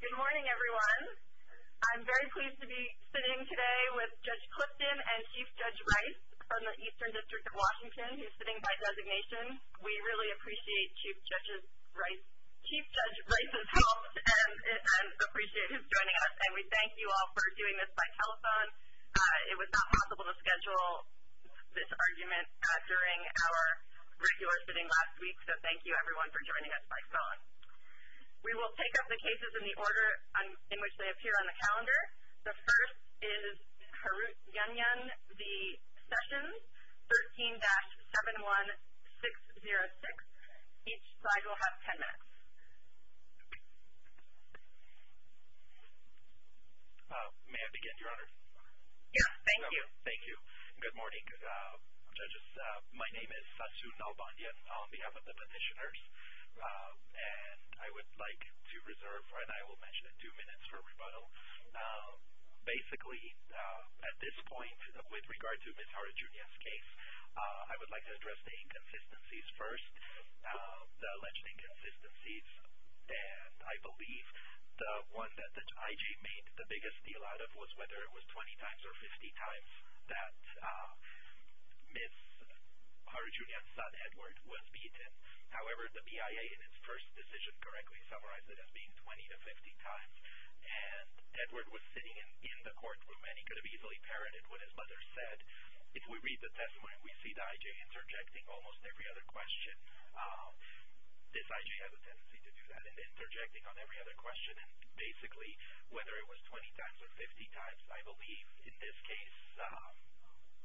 Good morning everyone. I'm very pleased to be sitting today with Judge Clifton and Chief Judge Rice from the Eastern District of Washington, who's sitting by designation. We really appreciate Chief Judge Rice's help and appreciate his joining us, and we thank you all for doing this by telephone. It was not possible to schedule this argument during our regular sitting last week, so thank you everyone for joining us by phone. We will take up the cases in the order in which they appear on the calendar. The first is Harutyunyan v. Sessions, 13-71606. Each slide will have ten minutes. May I begin, Your Honor? Yes, thank you. Thank you, and good morning. Good morning, judges. My name is Satsu Nalbandian on behalf of the petitioners, and I would like to reserve, and I will mention in two minutes for rebuttal, basically at this point with regard to Ms. Harutyunyan's case, I would like to address the inconsistencies first, the alleged inconsistencies, and I believe the one that the IG made the biggest deal out of was whether it was 20 times or 50 times that Ms. Harutyunyan's son, Edward, was beaten. However, the BIA in its first decision correctly summarized it as being 20 to 50 times, and Edward was sitting in the courtroom, and he could have easily parroted what his mother said. If we read the testimony, we see the IG interjecting almost every other question. This IG has a tendency to do that, and interjecting on every other question, and basically whether it was 20 times or 50 times, I believe, in this case,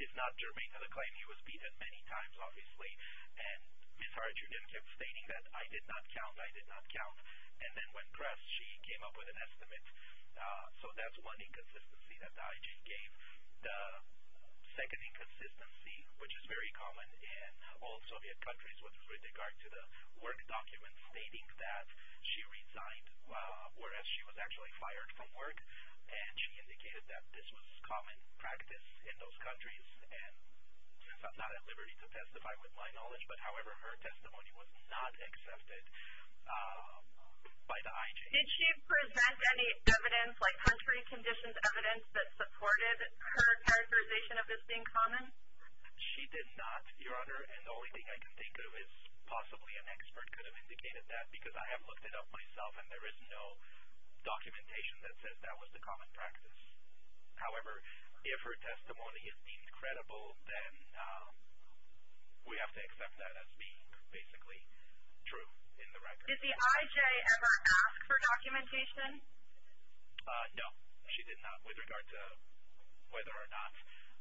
is not germane to the claim he was beaten many times, obviously, and Ms. Harutyunyan kept stating that, I did not count, I did not count, and then when pressed, she came up with an estimate. So that's one inconsistency that the IG gave. The second inconsistency, which is very common in all Soviet countries with regard to the work documents stating that she resigned, whereas she was actually fired from work, and she indicated that this was common practice in those countries, and I'm not at liberty to testify with my knowledge, but, however, her testimony was not accepted by the IG. Did she present any evidence, like country conditions evidence, that supported her characterization of this being common? She did not, Your Honor, and the only thing I can think of is possibly an expert could have indicated that because I have looked it up myself, and there is no documentation that says that was the common practice. However, if her testimony is deemed credible, then we have to accept that as being basically true in the record. Did the IJ ever ask for documentation? No, she did not. With regard to whether or not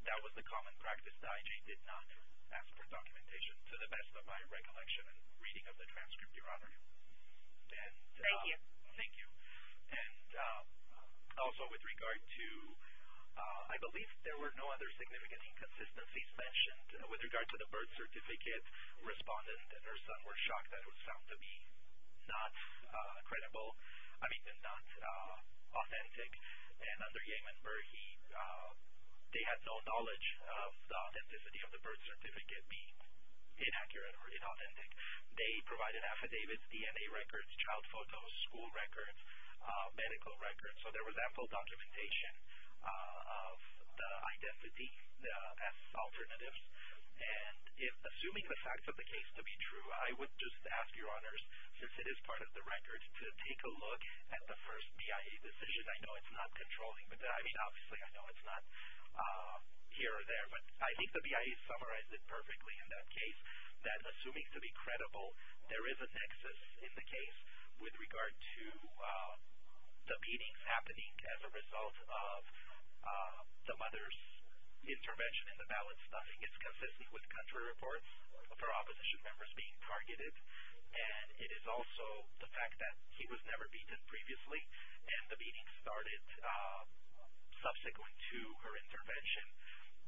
that was the common practice, the IJ did not ask for documentation. To the best of my recollection and reading of the transcript, Your Honor. Thank you. Thank you. And also with regard to I believe there were no other significant inconsistencies mentioned. With regard to the birth certificate, respondent and her son were shocked that it was found to be not credible, I mean not authentic, and under Yemen Burhi they had no knowledge of the authenticity of the birth certificate being inaccurate or inauthentic. They provided affidavits, DNA records, child photos, school records, medical records. So there was ample documentation of the identity as alternatives, and assuming the facts of the case to be true, I would just ask Your Honors, since it is part of the record, to take a look at the first BIA decision. I know it's not controlling, I mean obviously I know it's not here or there, but I think the BIA summarized it perfectly in that case, that assuming to be credible there is a nexus in the case with regard to the beatings happening as a result of the mother's intervention in the ballot stuffing. It's consistent with country reports for opposition members being targeted, and it is also the fact that he was never beaten previously and the beating started subsequent to her intervention,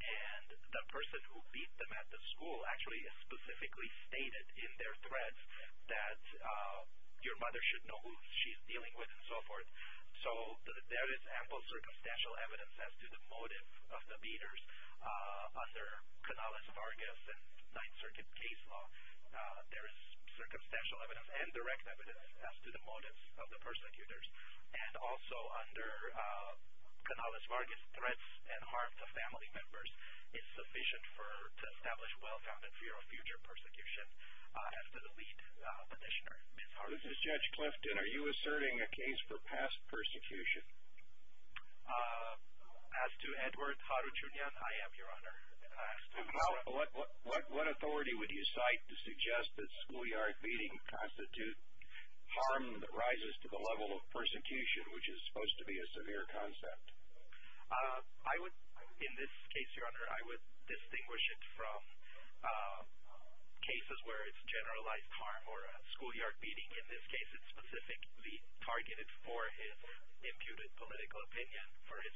and the person who beat them at the school actually specifically stated in their threats that your mother should know who she's dealing with and so forth. So there is ample circumstantial evidence as to the motive of the beaters under Canales, Vargas, and Ninth Circuit case law. There is circumstantial evidence and direct evidence as to the motives of the persecutors, and also under Canales, Vargas, threats and harm to family members is sufficient to establish well-founded fear of future persecution as to the lead petitioner. This is Judge Clifton. Are you asserting a case for past persecution? As to Edward Haruchunyan, I am, Your Honor. What authority would you cite to suggest that schoolyard beating constitutes harm that rises to the level of persecution, which is supposed to be a severe concept? I would, in this case, Your Honor, I would distinguish it from cases where it's generalized harm or a schoolyard beating. In this case, it's specifically targeted for his imputed political opinion.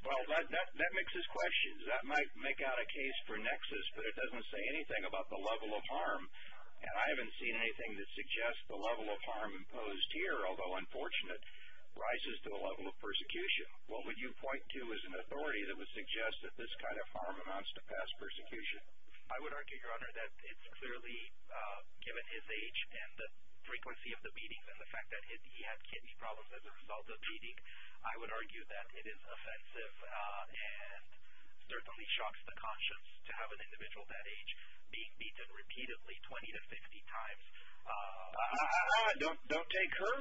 Well, that mixes questions. That might make out a case for nexus, but it doesn't say anything about the level of harm, and I haven't seen anything that suggests the level of harm imposed here, although unfortunate, rises to the level of persecution. What would you point to as an authority that would suggest that this kind of harm amounts to past persecution? I would argue, Your Honor, that it's clearly given his age and the frequency of the beating and the fact that he had kidney problems as a result of beating. I would argue that it is offensive and certainly shocks the conscience to have an individual that age being beaten repeatedly 20 to 50 times. Don't take her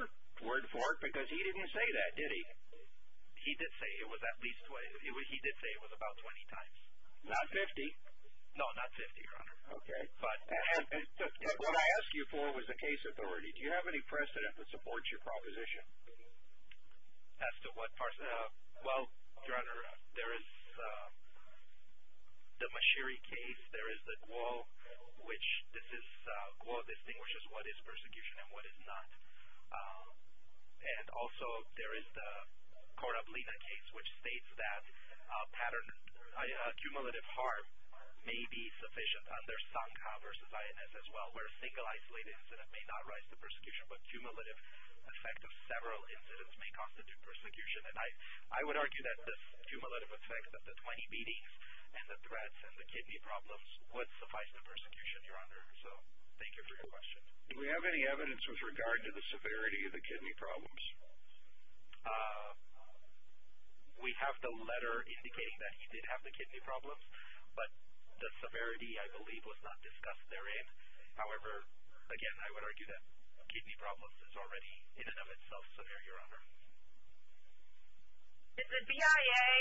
word for it, because he didn't say that, did he? He did say it was at least 20. He did say it was about 20 times. Not 50? No, not 50, Your Honor. Okay. And what I asked you for was a case authority. Do you have any precedent that supports your proposition? As to what precedent? Well, Your Honor, there is the Mashiri case. There is the Guo, which Guo distinguishes what is persecution and what is not. And also there is the Cora Blina case, which states that cumulative harm may be sufficient under Sankha versus INS as well, where a single isolated incident may not rise to persecution, but cumulative effect of several incidents may constitute persecution. And I would argue that this cumulative effect of the 20 beatings and the threats and the kidney problems would suffice the persecution, Your Honor. So thank you for your question. Do we have any evidence with regard to the severity of the kidney problems? We have the letter indicating that he did have the kidney problems, but the severity, I believe, was not discussed therein. However, again, I would argue that kidney problems is already, in and of itself, severe, Your Honor. Did the BIA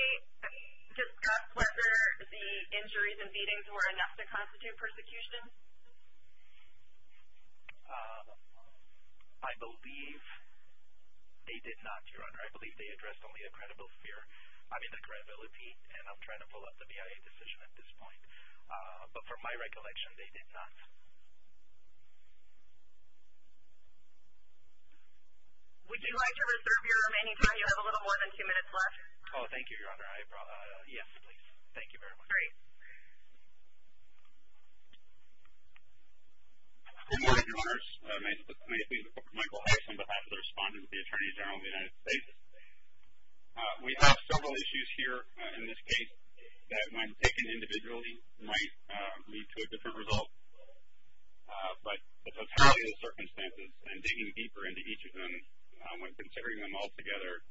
discuss whether the injuries and beatings were enough to constitute persecution? I believe they did not, Your Honor. I believe they addressed only the credibility, and I'm trying to pull up the BIA decision at this point. But from my recollection, they did not. Would you like to reserve your remaining time? You have a little more than two minutes left. Oh, thank you, Your Honor. Yes, please. Thank you very much. Great. Good morning, Your Honors. My name is Michael Hays. I'm the past respondent with the Attorney General of the United States. We have several issues here in this case that, when taken individually, might lead to a different result. But the totality of the circumstances and digging deeper into each of them, when considering them all together,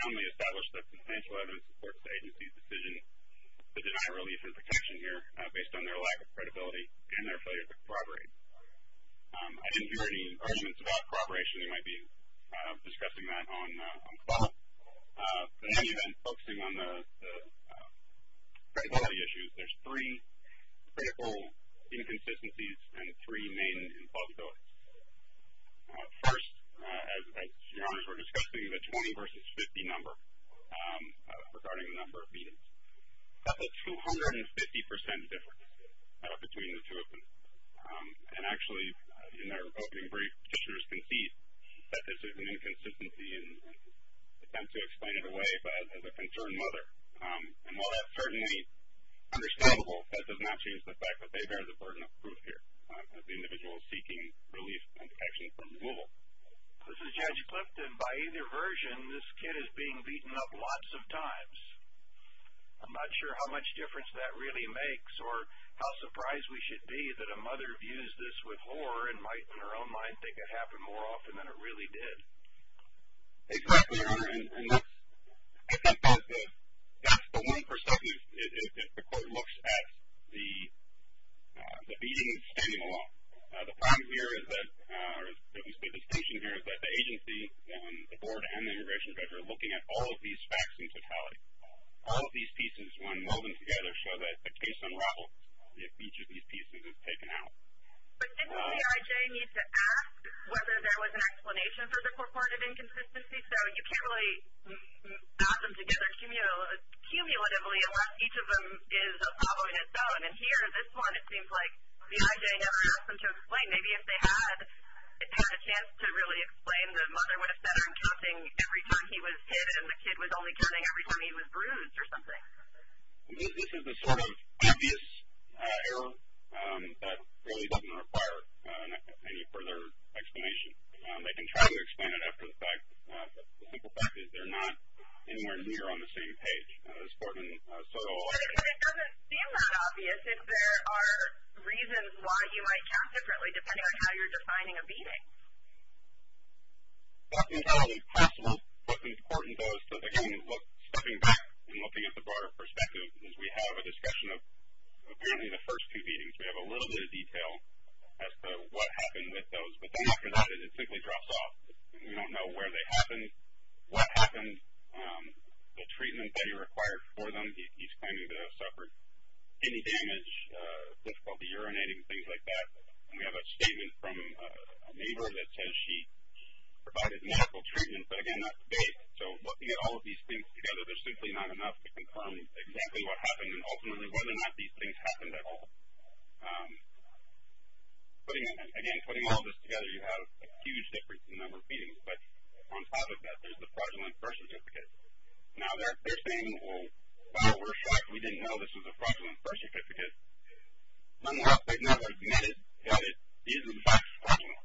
soundly established that substantial evidence supports the agency's decision to deny relief and protection here based on their lack of credibility and their failure to corroborate. I didn't hear any arguments about corroboration. I'm assuming you might be discussing that on call. And focusing on the credibility issues, there's three critical inconsistencies and three main implausibilities. First, as Your Honors were discussing, the 20 versus 50 number regarding the number of meetings. That's a 250% difference between the two of them. And actually, in their opening brief, petitioners concede that this is an inconsistency and attempt to explain it away as a concerned mother. And while that's certainly understandable, that does not change the fact that they bear the burden of proof here as the individual seeking relief and protection from removal. This is Judge Clifton. By either version, this kid is being beaten up lots of times. I'm not sure how much difference that really makes or how surprised we should be that a mother views this with horror and might, in her own mind, think it happened more often than it really did. Exactly, Your Honor. And that's the one perspective if the court looks at the beating and standing alone. The point here is that, or at least the distinction here, is that the agency, the board, and the immigration judge are looking at all of these facts in totality. All of these pieces, when molded together, show that the case unravels if each of these pieces is taken out. But doesn't the IJ need to ask whether there was an explanation for the reported inconsistency? So you can't really add them together cumulatively unless each of them is following its own. And here, this one, it seems like the IJ never asked them to explain. Maybe if they had had a chance to really explain, the mother would have said I'm counting every time he was hit, and the kid was only counting every time he was bruised or something. This is a sort of obvious error that really doesn't require any further explanation. They can try to explain it after the fact. The simple fact is they're not anywhere near on the same page. This court in Soto Hall. But it doesn't seem that obvious. I think there are reasons why you might count differently, depending on how you're defining a beating. That's entirely possible. What's important, though, is that, again, stepping back and looking at the broader perspective, is we have a discussion of apparently the first two beatings. We have a little bit of detail as to what happened with those. But then after that, it simply drops off. We don't know where they happened, what happened, the treatment that he required for them. He's claiming to have suffered any damage, difficulty urinating, things like that. We have a statement from a neighbor that says she provided medical treatment, but, again, not today. So looking at all of these things together, there's simply not enough to confirm exactly what happened and ultimately whether or not these things happened at all. Again, putting all of this together, you have a huge difference in the number of beatings. But on top of that, there's the fraudulent birth certificate. Now, they're saying, well, we're shocked we didn't know this was a fraudulent birth certificate because nonetheless they've never admitted that it is, in fact, fraudulent.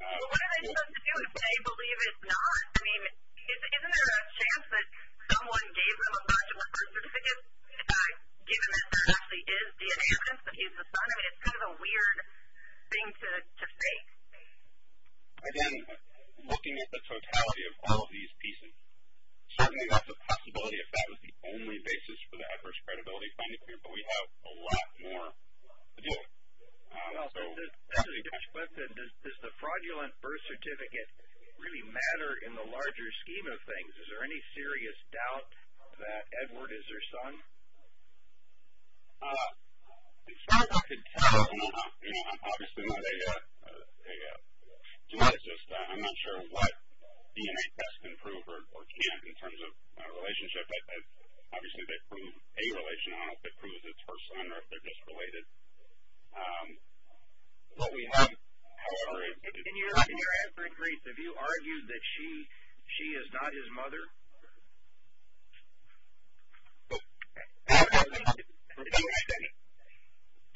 Well, what are they supposed to do if they believe it's not? I mean, isn't there a chance that someone gave them a fraudulent birth certificate, given that there actually is DNA evidence that he's the son? I mean, it's kind of a weird thing to say. Again, looking at the totality of all of these pieces, certainly that's a possibility if that was the only basis for the adverse credibility finding, but we have a lot more to do. Well, as Judge Quint said, does the fraudulent birth certificate really matter in the larger scheme of things? Is there any serious doubt that Edward is their son? As far as I can tell, you know, I'm not sure what DNA tests can prove or can't in terms of a relationship. Obviously, if they prove a relation, I don't know if it proves it's her son or if they're just related. What we have, however, is that it's not. In your answering brief, have you argued that she is not his mother?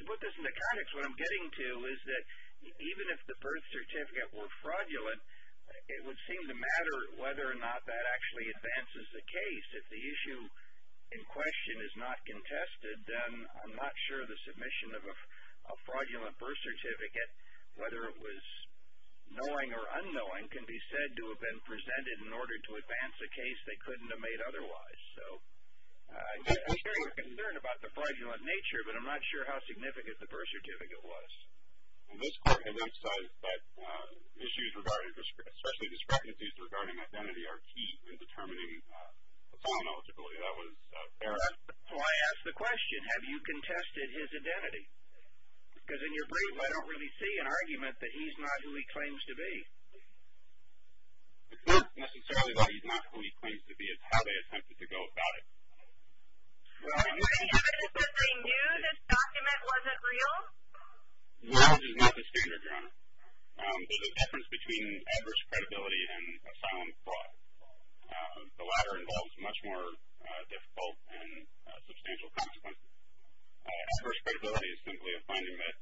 To put this into context, what I'm getting to is that even if the birth certificate were fraudulent, it would seem to matter whether or not that actually advances the case. If the issue in question is not contested, then I'm not sure the submission of a fraudulent birth certificate, whether it was knowing or unknowing, can be said to have been presented in order to advance a case they couldn't have made otherwise. So, I'm sure you're concerned about the fraudulent nature, but I'm not sure how significant the birth certificate was. In this court, it looks like issues regarding, especially discrepancies regarding identity are key in determining the son eligibility. That was Eric. Because in your brief, I don't really see an argument that he's not who he claims to be. It's not necessarily that he's not who he claims to be. It's how they attempted to go about it. Do you have any evidence that they knew this document wasn't real? Real is not the standard, Your Honor. There's a difference between adverse credibility and asylum fraud. The latter involves much more difficult and substantial consequences. Adverse credibility is simply a finding that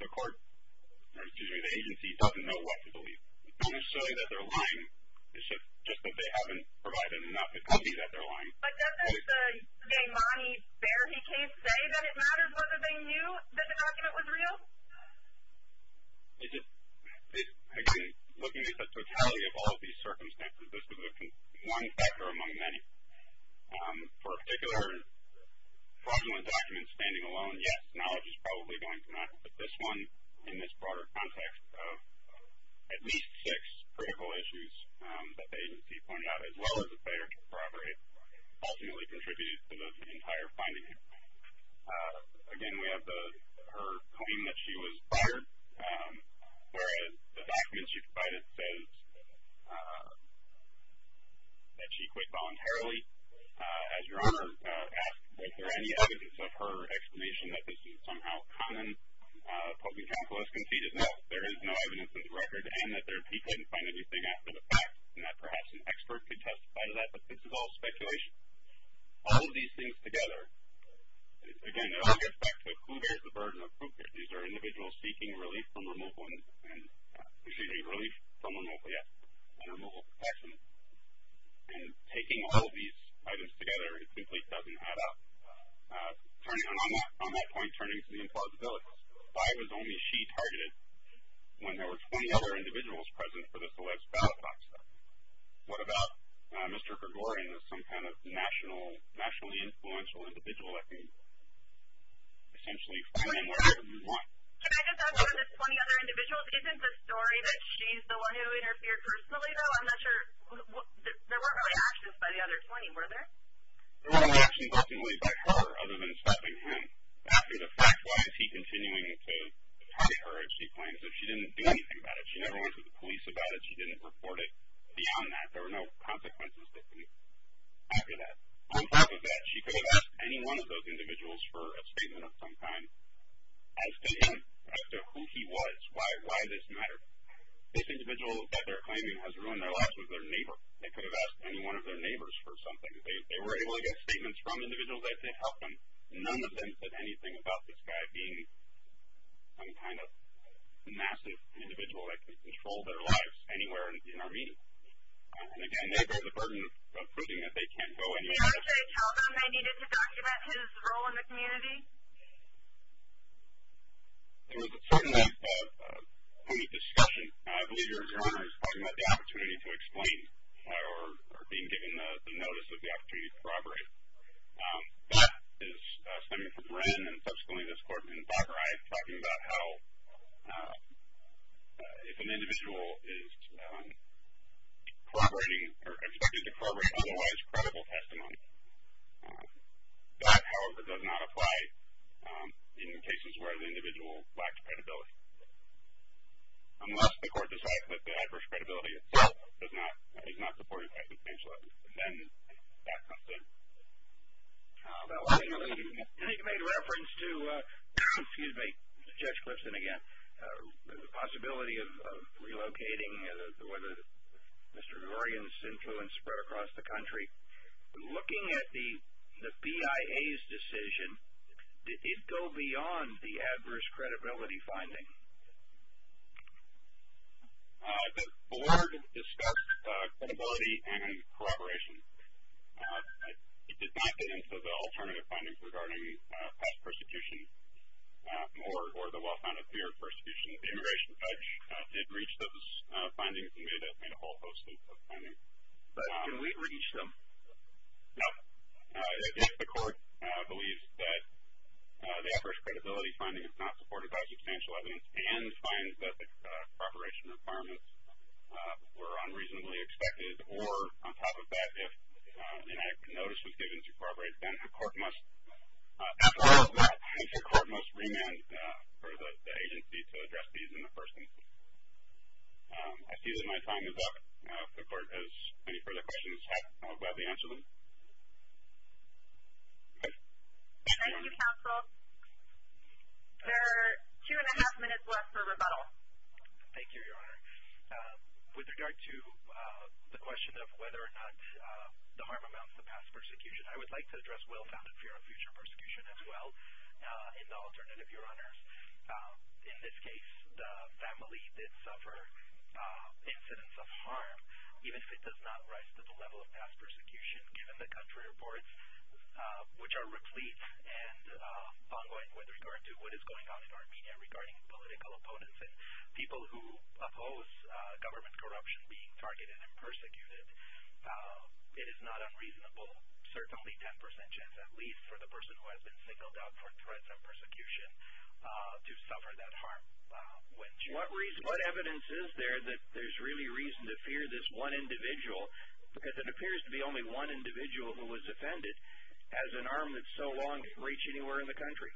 the court, or excuse me, the agency, doesn't know what to believe. It's not necessarily that they're lying. It's just that they haven't provided enough evidence that they're lying. But doesn't the Gaimani-Bearhey case say that it matters whether they knew that the document was real? Again, looking at the totality of all of these circumstances, this is one factor among many. For a particular fraudulent document, standing alone, yes, knowledge is probably going to matter. But this one, in this broader context of at least six critical issues that the agency pointed out, as well as a failure to corroborate, ultimately contributes to the entire finding. Again, we have her claiming that she was fired, whereas the document she provided says that she quit voluntarily. As Your Honor asked, is there any evidence of her explanation that this is somehow common? Public counsel has conceded, no, there is no evidence of the record, and that they couldn't find anything after the fact, and that perhaps an expert could testify to that. But this is all speculation. All of these things together, again, it all gets back to who bears the burden of proof. These are individuals seeking relief from removal and removal protection. And taking all of these items together, it simply doesn't add up. And on that point, turning to the implausibilities, five is only she targeted when there were 20 other individuals present for the Celebs Battlefront. What about Mr. Gregorian as some kind of nationally influential individual that can essentially find more evidence than you want? Can I just ask about the 20 other individuals? Isn't the story that she's the one who interfered personally, though? I'm not sure. There weren't really actions by the other 20, were there? There weren't any actions ultimately by her other than stopping him after the fact. Why is he continuing to target her, as she claims, if she didn't do anything about it? She never went to the police about it. She didn't report it beyond that. There were no consequences that can be after that. On top of that, she could have asked any one of those individuals for a statement of some kind as to him, as to who he was, why this mattered. This individual that they're claiming has ruined their lives was their neighbor. They could have asked any one of their neighbors for something. They were able to get statements from individuals that did help them. None of them said anything about this guy being some kind of massive individual that can control their lives anywhere in Armenia. And, again, they bear the burden of proving that they can't go anywhere. Did you actually tell them they needed to document his role in the community? There was a certain amount of public discussion. I believe your attorney was talking about the opportunity to explain or being given the notice of the opportunity to corroborate. That is stemming from Brynn and subsequently this court in Bagrai talking about how if an individual is corroborating or expected to corroborate otherwise credible testimony, that, however, does not apply in cases where the individual lacks credibility, unless the court decides that the adverse credibility itself is not supported by confidential evidence. Then that comes in. I think you made reference to, excuse me, Judge Clifton again, the possibility of relocating and the way that Mr. Durian's influence spread across the country. Looking at the BIA's decision, did it go beyond the adverse credibility finding? The board discussed credibility and corroboration. It did not get into the alternative findings regarding past persecution or the well-founded fear of persecution. The immigration judge did reach those findings. He made a whole host of those findings. Can we reach them? No. If the court believes that the adverse credibility finding is not supported by substantial evidence and finds that the corroboration requirements were unreasonably expected, or on top of that if an act of notice was given to corroborate, then the court must remand for the agency to address these in the first instance. I see that my time is up. If the court has any further questions, I'll gladly answer them. Thank you, counsel. There are two and a half minutes left for rebuttal. Thank you, Your Honor. With regard to the question of whether or not the harm amounts to past persecution, I would like to address well-founded fear of future persecution as well in the alternative, Your Honors. In this case, the family did suffer incidents of harm, even if it does not rise to the level of past persecution given the country reports, which are replete and ongoing with regard to what is going on in Armenia regarding political opponents and people who oppose government corruption being targeted and persecuted. It is not unreasonable, certainly ten percent chance at least, for the person who has been singled out for threats of persecution to suffer that harm. What evidence is there that there's really reason to fear this one individual, because it appears to be only one individual who was offended, as an arm that's so long reached anywhere in the country?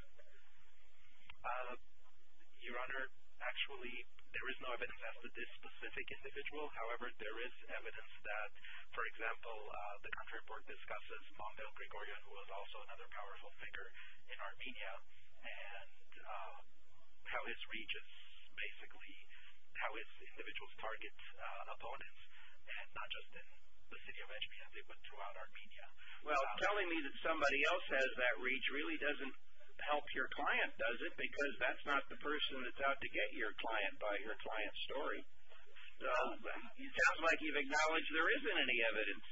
Your Honor, actually there is no evidence as to this specific individual. However, there is evidence that, for example, the country report discusses Montel Gregorian, who is also another powerful figure in Armenia, and how his reach is basically how his individuals target opponents, and not just in the city of Etchmiadze, but throughout Armenia. Well, telling me that somebody else has that reach really doesn't help your client, does it? Because that's not the person that's out to get your client by your client's story. It sounds like you've acknowledged there isn't any evidence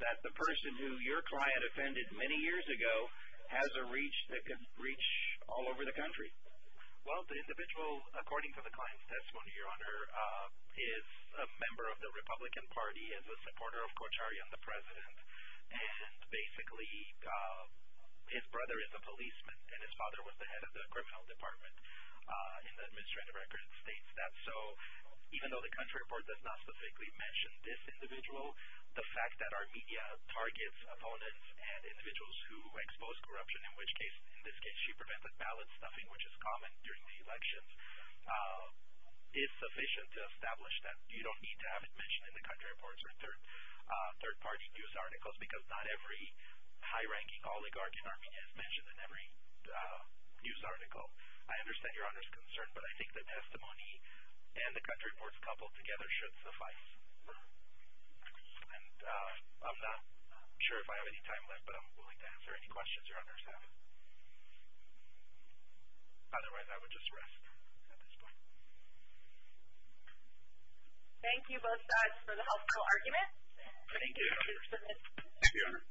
that the person who your client offended many years ago has a reach that can reach all over the country. Well, the individual, according to the client's testimony, Your Honor, is a member of the Republican Party, is a supporter of Kocharian, the president, and basically his brother is a policeman, and his father was the head of the criminal department in the administrative record states. That's so, even though the country report does not specifically mention this individual, the fact that Armenia targets opponents and individuals who expose corruption, in which case, in this case, she prevented ballot stuffing, which is common during the elections, is sufficient to establish that you don't need to have it mentioned in the country reports or third-party news articles, because not every high-ranking oligarch in Armenia is mentioned in every news article. I understand Your Honor's concern, but I think the testimony and the country reports coupled together should suffice. And I'm not sure if I have any time left, but I'm willing to answer any questions Your Honor has. Otherwise, I would just rest at this point. Thank you, both sides, for the helpful argument. Thank you, Your Honor.